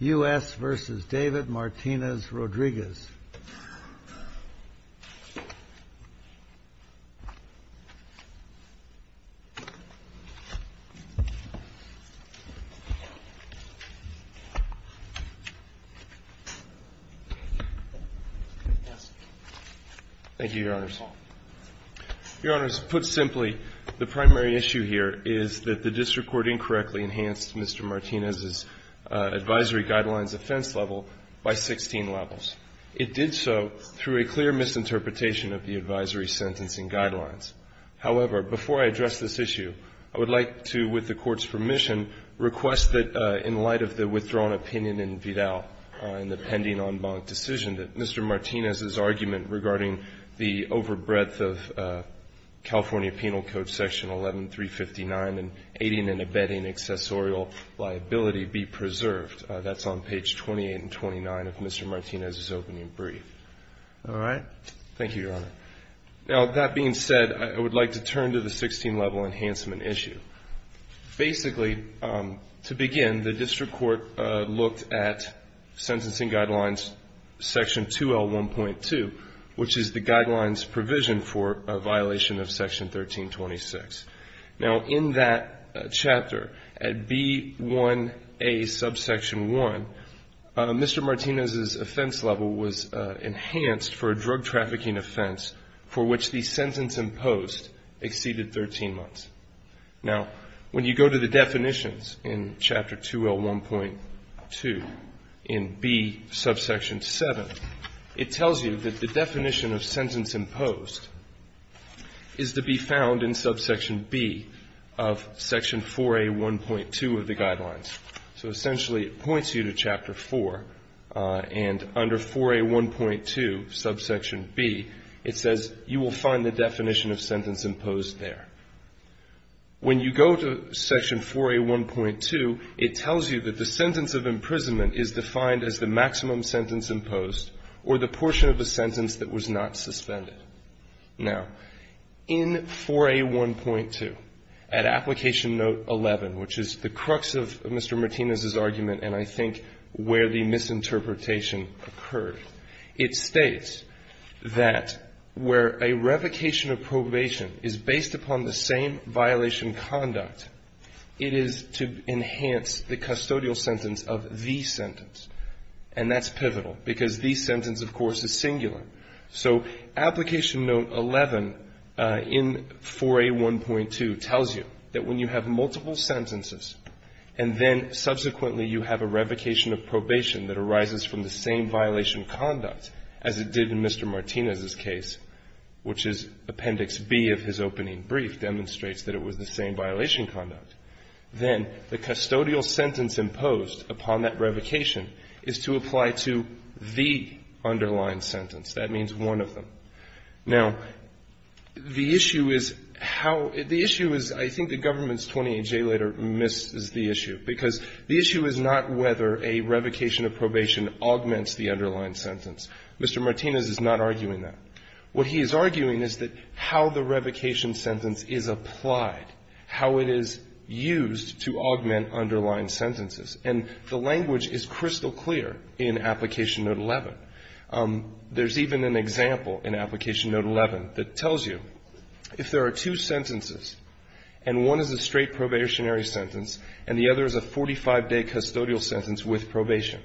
U.S. v. David Martinez-Rodriguez. Thank you, Your Honors. Your Honors, put simply, the primary issue here is that the district court incorrectly enhanced Mr. Martinez's advisory guidelines offense level by 16 levels. It did so through a clear misinterpretation of the advisory sentencing guidelines. However, before I address this issue, I would like to, with the Court's permission, request that in light of the withdrawn opinion in Vidal in the pending en banc decision that Mr. Martinez's argument regarding the overbreadth of California Penal Code Section 11359 and exceeding and abetting accessorial liability be preserved. That's on page 28 and 29 of Mr. Martinez's opening brief. All right. Thank you, Your Honor. Now, that being said, I would like to turn to the 16-level enhancement issue. Basically, to begin, the district court looked at sentencing guidelines Section 2L1.2, which is the guidelines provision for a violation of Section 1326. Now, in that chapter, at B1A subsection 1, Mr. Martinez's offense level was enhanced for a drug trafficking offense for which the sentence imposed exceeded 13 months. Now, when you go to the definitions in Chapter 2L1.2 in B subsection 7, it tells you that the definition of sentence imposed is to be found in subsection B of Section 4A1.2 of the guidelines. So essentially, it points you to Chapter 4, and under 4A1.2 subsection B, it says you will find the definition of sentence imposed there. When you go to Section 4A1.2, it tells you that the sentence of imprisonment is defined as the maximum sentence imposed or the portion of the sentence that was not suspended. Now, in 4A1.2, at Application Note 11, which is the crux of Mr. Martinez's argument and I think where the misinterpretation occurred, it states that where a revocation of probation is based upon the same violation conduct, it is to enhance the custodial sentence of the sentence. And that's pivotal, because the sentence, of course, is singular. So Application Note 11 in 4A1.2 tells you that when you have multiple sentences and then subsequently you have a revocation of probation that arises from the same violation conduct as it did in Mr. Martinez's case, which is Appendix B of his opening brief, demonstrates that it was the same violation conduct, then the custodial sentence imposed upon that revocation is to apply to the underlying sentence. That means one of them. Now, the issue is how the issue is, I think the government's 28J later misses the issue, because the issue is not whether a revocation of probation augments the underlying sentence. Mr. Martinez is not arguing that. What he is arguing is that how the revocation sentence is applied, how it is used to augment underlying sentences. And the language is crystal clear in Application Note 11. There's even an example in Application Note 11 that tells you if there are two sentences and one is a straight probationary sentence and the other is a 45-day custodial sentence with probation,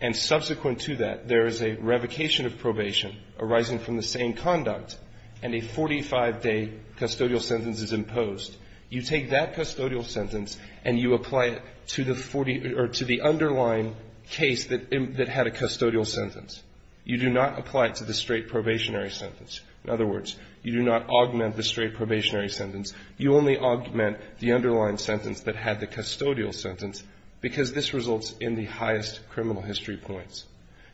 and subsequent to that there is a revocation of probation arising from the same conduct and a 45-day custodial sentence is imposed, you take that custodial sentence and you apply it to the 40 or to the underlying case that had a custodial sentence. You do not apply it to the straight probationary sentence. In other words, you do not augment the straight probationary sentence. You only augment the underlying sentence that had the custodial sentence, because this results in the highest criminal history points.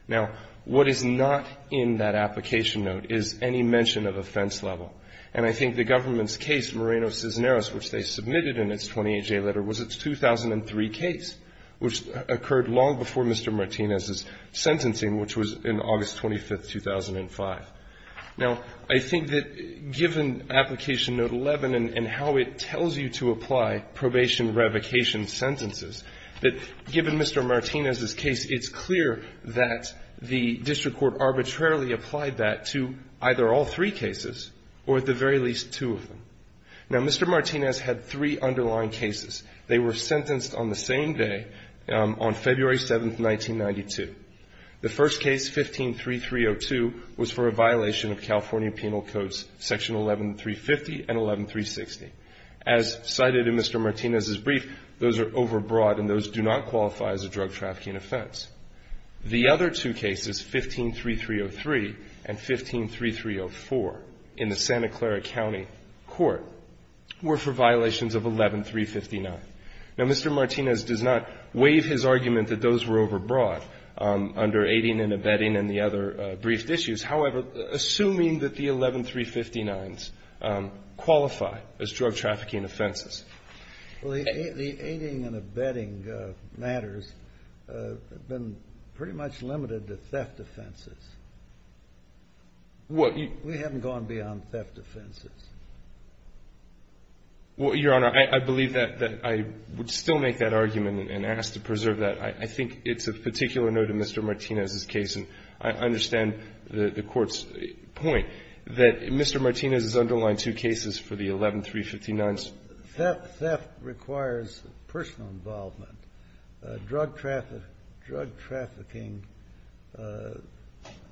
Now, what is not in that Application Note is any mention of offense level. And I think the government's case, Moreno-Cisneros, which they submitted in its 28-J letter, was its 2003 case, which occurred long before Mr. Martinez's sentencing, which was in August 25th, 2005. Now, I think that given Application Note 11 and how it tells you to apply probation revocation sentences, that given Mr. Martinez's case, it's clear that the district court arbitrarily applied that to either all three cases or at the very least two of them. Now, Mr. Martinez had three underlying cases. They were sentenced on the same day, on February 7th, 1992. The first case, 15-3302, was for a violation of California Penal Codes, Section 11-350 and 11-360. As cited in Mr. Martinez's brief, those are overbroad and those do not qualify as a drug trafficking offense. The other two cases, 15-3303 and 15-3304, in the Santa Clara County Court, were for violations of 11-359. Now, Mr. Martinez does not waive his argument that those were overbroad under aiding and abetting and the other briefed issues. However, assuming that the 11-359s qualify as drug trafficking offenses. Well, the aiding and abetting matters have been pretty much limited to theft offenses. We haven't gone beyond theft offenses. Well, Your Honor, I believe that I would still make that argument and ask to preserve that. I think it's of particular note in Mr. Martinez's case, and I understand the Court's point that Mr. Martinez has underlined two cases for the 11-359s. Theft requires personal involvement. Drug trafficking,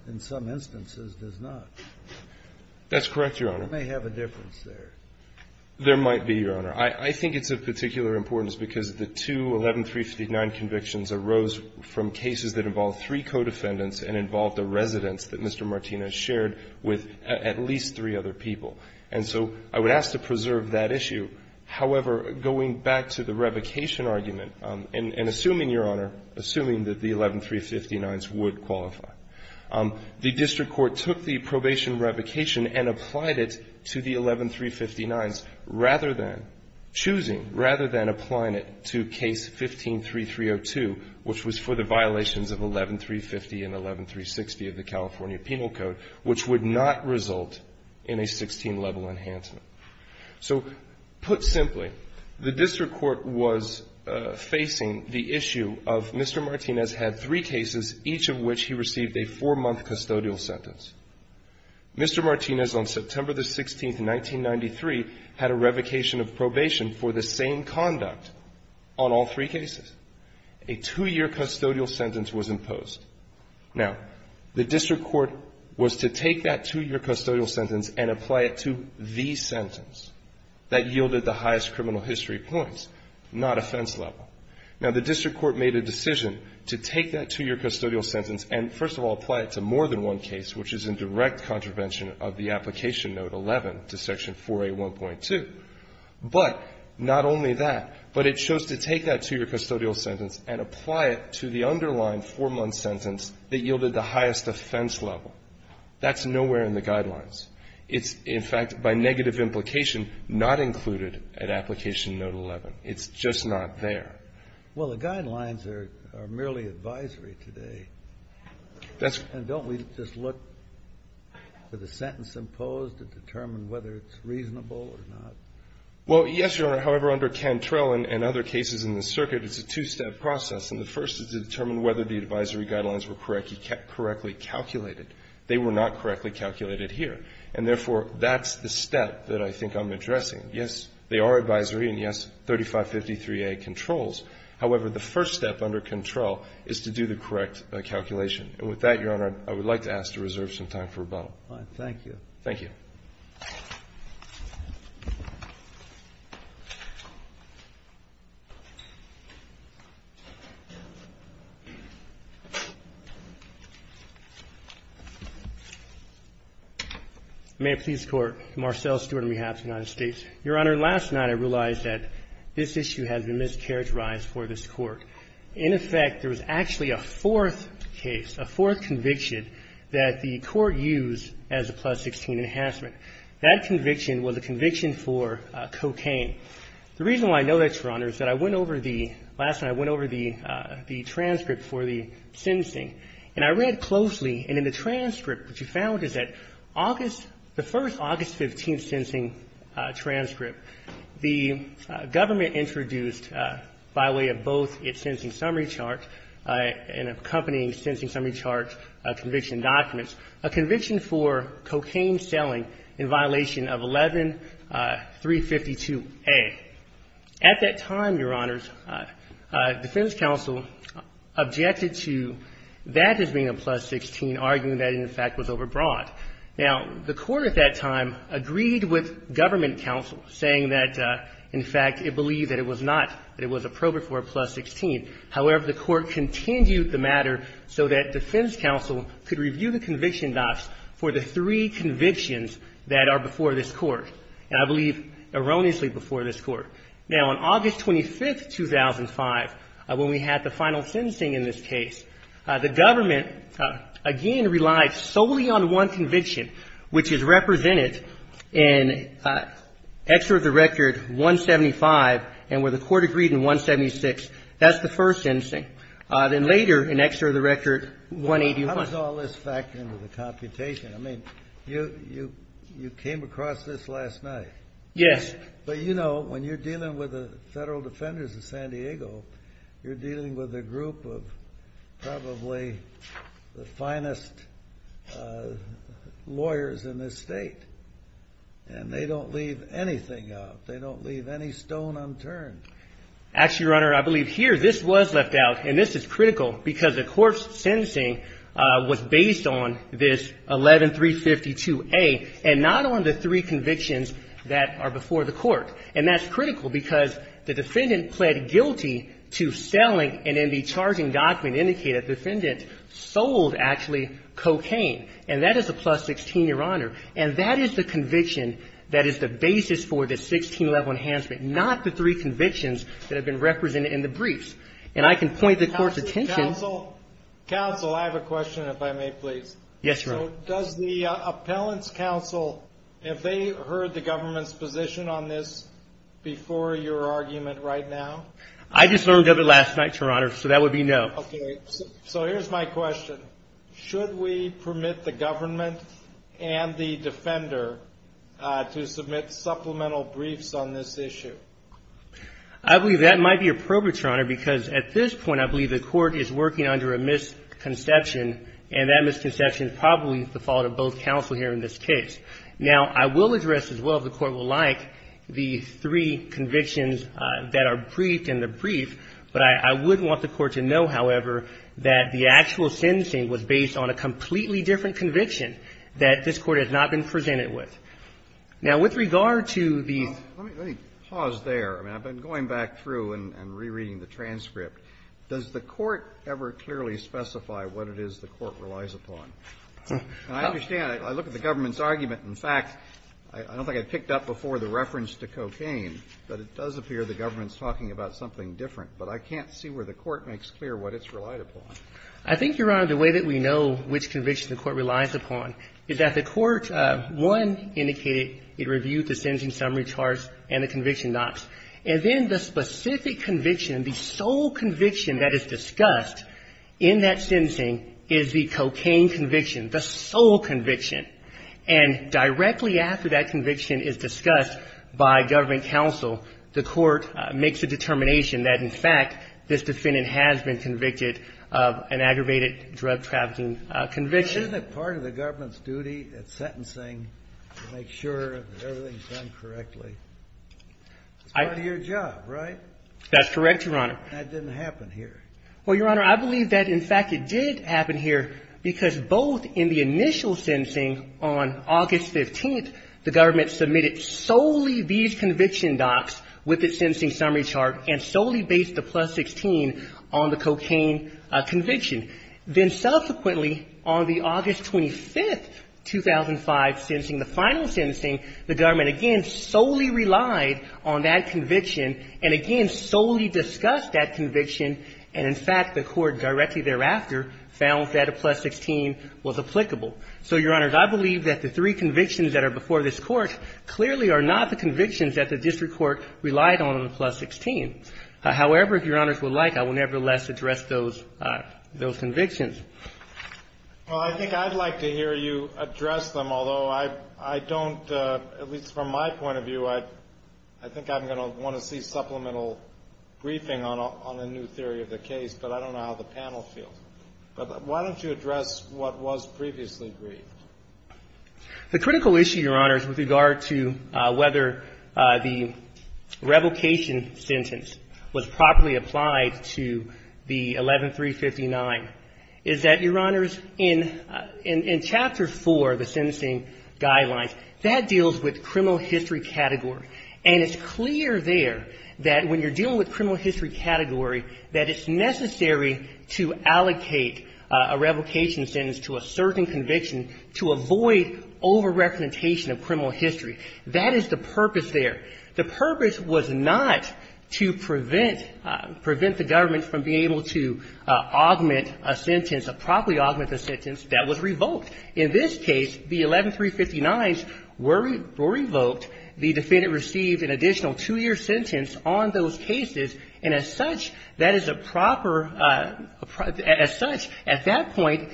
in some instances, does not. That's correct, Your Honor. It may have a difference there. There might be, Your Honor. I think it's of particular importance because the two 11-359 convictions arose from cases that involved three co-defendants and involved a residence that Mr. Martinez shared with at least three other people. And so I would ask to preserve that issue. However, going back to the revocation argument, and assuming, Your Honor, assuming that the 11-359s would qualify, the district court took the probation revocation and applied it to the 11-359s rather than choosing, rather than applying it to Case 15-3302, which was for the violations of 11-350 and 11-360 of the California Penal Code, which would not result in a 16-level enhancement. So, put simply, the district court was facing the issue of Mr. Martinez had three cases, each of which he received a four-month custodial sentence. Mr. Martinez, on September 16, 1993, had a revocation of probation for the same conduct on all three cases. A two-year custodial sentence was imposed. Now, the district court was to take that two-year custodial sentence and apply it to the sentence that yielded the highest criminal history points, not offense level. Now, the district court made a decision to take that two-year custodial sentence and, first of all, apply it to more than one case, which is in direct contravention of the Application Note 11 to Section 4A1.2. But, not only that, but it chose to take that two-year custodial sentence and apply it to the underlying four-month sentence that yielded the highest offense level. That's nowhere in the Guidelines. It's, in fact, by negative implication, not included at Application Note 11. It's just not there. Well, the Guidelines are merely advisory today. And don't we just look for the sentence imposed to determine whether it's reasonable or not? Well, yes, Your Honor. However, under Cantrell and other cases in the circuit, it's a two-step process. And the first is to determine whether the advisory guidelines were correctly calculated. They were not correctly calculated here. And, therefore, that's the step that I think I'm addressing. Yes, they are advisory and, yes, 3553A controls. However, the first step under Cantrell is to do the correct calculation. And with that, Your Honor, I would like to ask to reserve some time for rebuttal. Thank you. Thank you. May it please the Court. Marcel Stewart on behalf of the United States. Your Honor, last night I realized that this issue has been mischaracterized for this Court. In effect, there was actually a fourth case, a fourth conviction, that the Court used as a Plus 16 enhancement. That conviction was a conviction for cocaine. The reason why I know that, Your Honor, is that I went over the – last night I went over the transcript for the sentencing. And I read closely. And in the transcript, what you found is that August – the first August 15th sentencing transcript, the government introduced, by way of both its sentencing summary chart and accompanying sentencing summary chart conviction documents, a conviction for cocaine selling in violation of 11352A. At that time, Your Honors, defense counsel objected to that as being a Plus 16, arguing that it, in fact, was overbroad. Now, the Court at that time agreed with government counsel, saying that, in fact, it believed that it was not – that it was appropriate for a Plus 16. However, the Court continued the matter so that defense counsel could review the conviction docs for the three convictions that are before this Court. And I believe erroneously before this Court. Now, on August 25th, 2005, when we had the final sentencing in this case, the government, again, relied solely on one conviction, which is represented in Exeter of the Record 175, and where the Court agreed in 176. That's the first sentencing. Then later, in Exeter of the Record 185. How does all this factor into the computation? I mean, you came across this last night. Yes. But, you know, when you're dealing with the federal defenders of San Diego, you're dealing with a group of probably the finest lawyers in this state. And they don't leave anything out. They don't leave any stone unturned. Actually, Your Honor, I believe here, this was left out. And this is critical because the Court's sentencing was based on this 11352A and not on the three convictions that are before the Court. And that's critical because the defendant pled guilty to selling and in the charging document indicated the defendant sold, actually, cocaine. And that is a plus 16, Your Honor. And that is the conviction that is the basis for the 16-level enhancement, not the three convictions that have been represented in the briefs. And I can point the Court's attention... Counsel, I have a question, if I may, please. Yes, Your Honor. So, does the Appellant's Counsel, have they heard the government's position on this before your argument right now? I just learned of it last night, Your Honor, so that would be no. Okay, so here's my question. Should we permit the government and the defender to submit supplemental briefs on this issue? I believe that might be appropriate, Your Honor, because at this point I believe the Court is working under a misconception, and that misconception is probably the fault of both counsel here in this case. Now, I will address as well, if the Court would like, the three convictions that are briefed in the brief, but I would want the Court to know, however, that the actual sentencing was based on a completely different conviction that this Court has not been presented with. Now, with regard to the... Let me pause there. I mean, I've been going back through and rereading the transcript. Does the Court ever clearly specify what it is the Court relies upon? And I understand. I look at the government's argument. In fact, I don't think I picked up before the reference to cocaine, but it does appear the government's talking about something different, but I can't see where the Court makes clear what it's relied upon. I think, Your Honor, the way that we know which conviction the Court relies upon is that the Court, one, indicated it reviewed the sentencing summary charts and the conviction docs. And then the specific conviction, the sole conviction that is discussed in that sentencing is the cocaine conviction, the sole conviction. And directly after that conviction is discussed by government counsel, the Court makes a determination that, in fact, this defendant has been convicted of an aggravated drug trafficking conviction. But isn't it part of the government's duty at sentencing to make sure that everything's done correctly? It's part of your job, right? That's correct, Your Honor. That didn't happen here. Well, Your Honor, I believe that, in fact, it did happen here because both in the initial sentencing on August 15th, the government submitted solely these conviction docs with the sentencing summary chart and solely based the plus 16 on the cocaine conviction. Then subsequently, on the August 25th, 2005 sentencing, the final sentencing, the government again solely relied on that conviction and again solely discussed that conviction. And, in fact, the Court directly thereafter found that a plus 16 was applicable. So, Your Honor, I believe that the three convictions that are before this Court clearly are not the convictions that the district court relied on on the plus 16. However, if Your Honors would like, I will nevertheless address those convictions. Well, I think I'd like to hear you address them, although I don't, at least from my point of view, I think I'm going to want to see supplemental briefing on a new theory of the case, but I don't know how the panel feels. But why don't you address what was previously briefed? The critical issue, Your Honors, with regard to whether the revocation sentence was properly applied to the 11359 is that, Your Honors, in chapter 4 of the sentencing guidelines, that deals with criminal history category. And it's clear there that when you're dealing with criminal history category, that it's necessary to allocate a revocation sentence to a certain conviction to a very large extent to avoid over-representation of criminal history. That is the purpose there. The purpose was not to prevent the government from being able to augment a sentence, a properly augmented sentence that was revoked. In this case, the 11359s were revoked. The defendant received an additional two-year sentence on those cases. And as such, that is a proper – as such, at that point,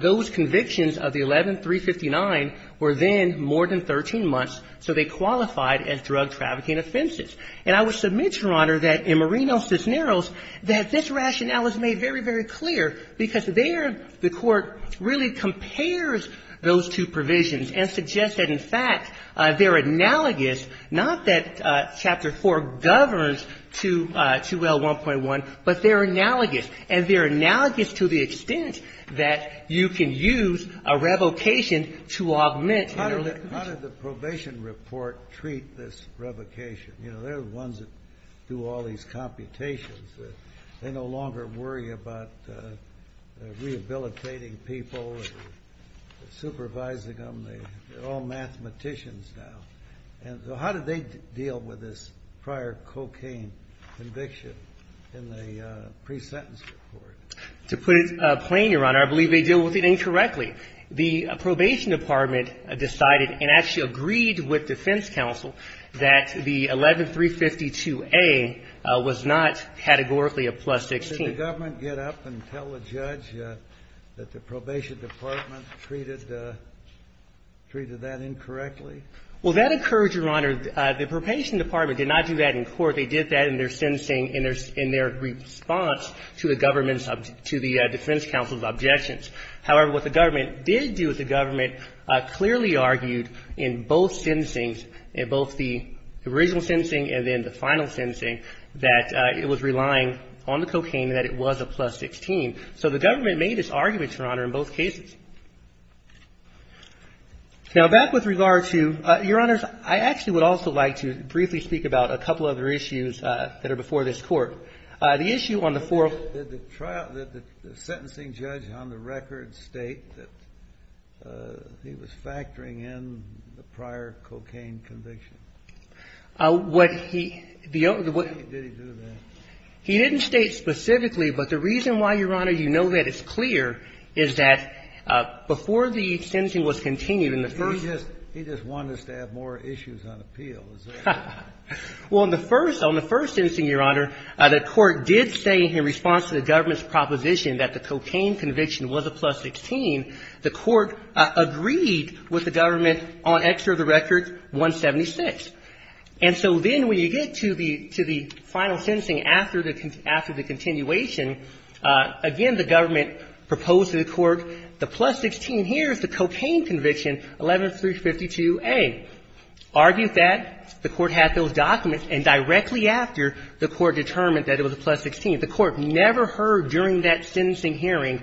those convictions of the 11359 were then more than 13 months. So they qualified as drug-trafficking offenses. And I would submit, Your Honor, that in Moreno v. Narrows, that this rationale is made very, very clear because there, the Court really compares those two provisions and suggests that, in fact, they're analogous, not that chapter 4 governs to the 2L1.1, but they're analogous. And they're analogous to the extent that you can use a revocation to augment an early conviction. How did the probation report treat this revocation? You know, they're the ones that do all these computations. They no longer worry about rehabilitating people, supervising them. They're all mathematicians now. And so how did they deal with this prior cocaine conviction in the pre-sentence report? To put it plain, Your Honor, I believe they dealt with it incorrectly. The probation department decided and actually agreed with defense counsel that the 11352A was not categorically a plus 16. Didn't the government get up and tell the judge that the probation department treated that incorrectly? Well, that occurred, Your Honor. The probation department did not do that in court. They did that in their sentencing, in their response to the government's, to the defense counsel's objections. However, what the government did do is the government clearly argued in both sentencings, in both the original sentencing and then the final sentencing, that it was relying on the cocaine and that it was a plus 16. So the government made this argument, Your Honor, in both cases. Now, back with regard to, Your Honors, I actually would also like to briefly speak about a couple other issues that are before this court. The issue on the fourth. Did the trial, did the sentencing judge on the record state that he was factoring in the prior cocaine conviction? What he, the. Did he do that? He didn't state specifically, but the reason why, Your Honor, you know that it's clear is that before the sentencing was continued in the first. He just wanted us to have more issues on appeal. Well, in the first, on the first sentencing, Your Honor, the court did say in response to the government's proposition that the cocaine conviction was a plus 16. The court agreed with the government on extra of the record 176. And so then when you get to the final sentencing after the continuation, again, the government proposed to the court the plus 16 here is the cocaine conviction, 11352A. Argued that. The court had those documents. And directly after, the court determined that it was a plus 16. The court never heard during that sentencing hearing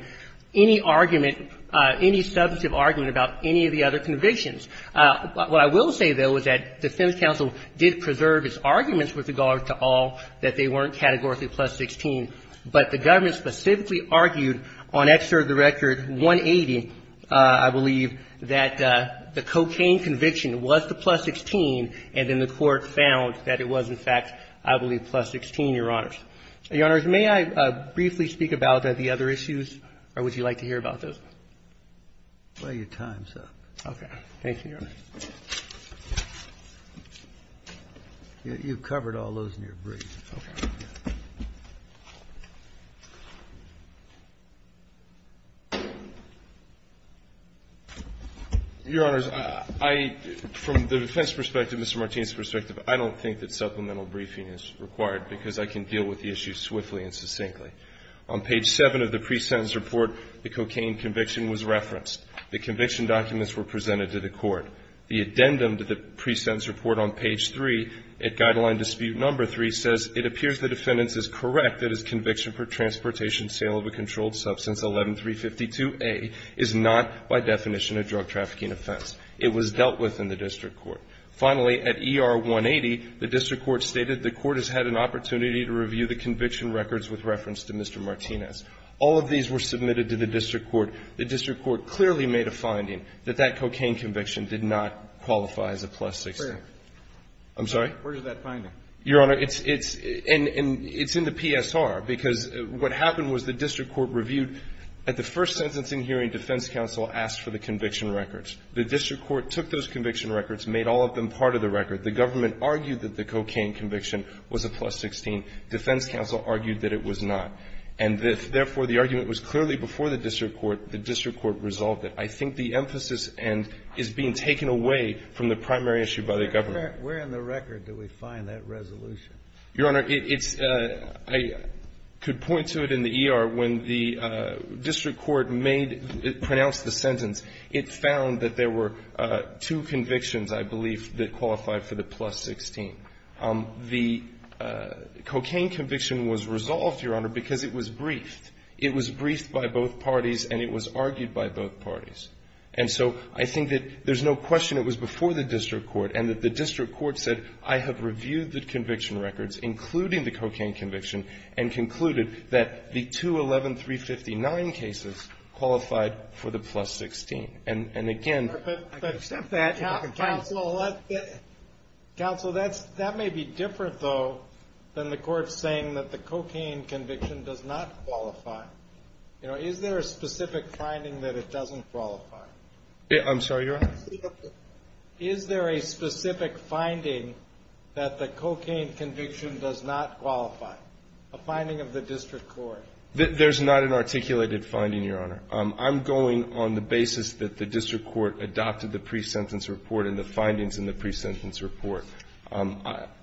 any argument, any substantive argument about any of the other convictions. What I will say, though, is that defense counsel did preserve its arguments with regard to all that they weren't categorically plus 16. But the government specifically argued on extra of the record 180, I believe, that the cocaine conviction was the plus 16. And then the court found that it was, in fact, I believe, plus 16, Your Honors. Your Honors, may I briefly speak about the other issues? Or would you like to hear about those? Well, your time's up. Okay. Thank you, Your Honor. You've covered all those in your brief. Your Honors, I, from the defense perspective, Mr. Martinez's perspective, I don't think that supplemental briefing is required because I can deal with the issue swiftly and succinctly. On page 7 of the pre-sentence report, the cocaine conviction was referenced. The conviction documents were presented to the court. The addendum to the pre-sentence report on page 3, at Guideline Dispute Number 3, says, It appears the defendant is correct that his conviction for transportation sale of a controlled substance, 11352A, is not by definition a drug trafficking offense. It was dealt with in the district court. Finally, at ER 180, the district court stated the court has had an opportunity to review the conviction records with reference to Mr. Martinez. All of these were submitted to the district court. The district court clearly made a finding that that cocaine conviction did not qualify as a plus 16. Where? I'm sorry? Where is that finding? Your Honor, it's in the PSR because what happened was the district court reviewed at the first sentencing hearing, defense counsel asked for the conviction records. The district court took those conviction records, made all of them part of the record. The government argued that the cocaine conviction was a plus 16. Defense counsel argued that it was not. And therefore, the argument was clearly before the district court, the district court resolved it. I think the emphasis is being taken away from the primary issue by the government. Where in the record do we find that resolution? Your Honor, I could point to it in the ER. When the district court pronounced the sentence, it found that there were two convictions, I believe, that qualified for the plus 16. The cocaine conviction was resolved, Your Honor, because it was briefed. It was briefed by both parties and it was argued by both parties. And so I think that there's no question it was before the district court and that the district court said, I have reviewed the conviction records, including the cocaine conviction, and concluded that the two 11359 cases qualified for the plus 16. And again... Counsel, that may be different, though, than the court saying that the cocaine conviction does not qualify. You know, is there a specific finding that it doesn't qualify? I'm sorry, Your Honor? Is there a specific finding that the cocaine conviction does not qualify? A finding of the district court? There's not an articulated finding, Your Honor. I'm going on the basis that the district court adopted the pre-sentence report and the findings in the pre-sentence report.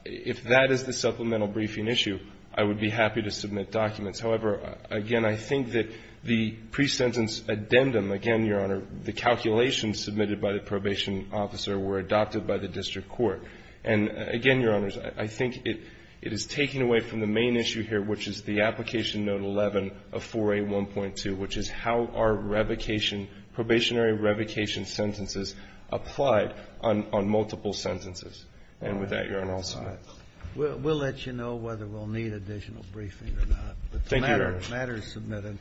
If that is the supplemental briefing issue, I would be happy to submit documents. However, again, I think that the pre-sentence addendum, again, Your Honor, the calculations submitted by the probation officer were adopted by the district court. And again, Your Honors, I think it is taking away from the main issue here, which is the application note 11 of 4A1.2, which is how are revocation, probationary revocation sentences applied on multiple sentences. And with that, Your Honor, I'll submit. We'll let you know whether we'll need additional briefing or not. Thank you, Your Honor. The matter is submitted.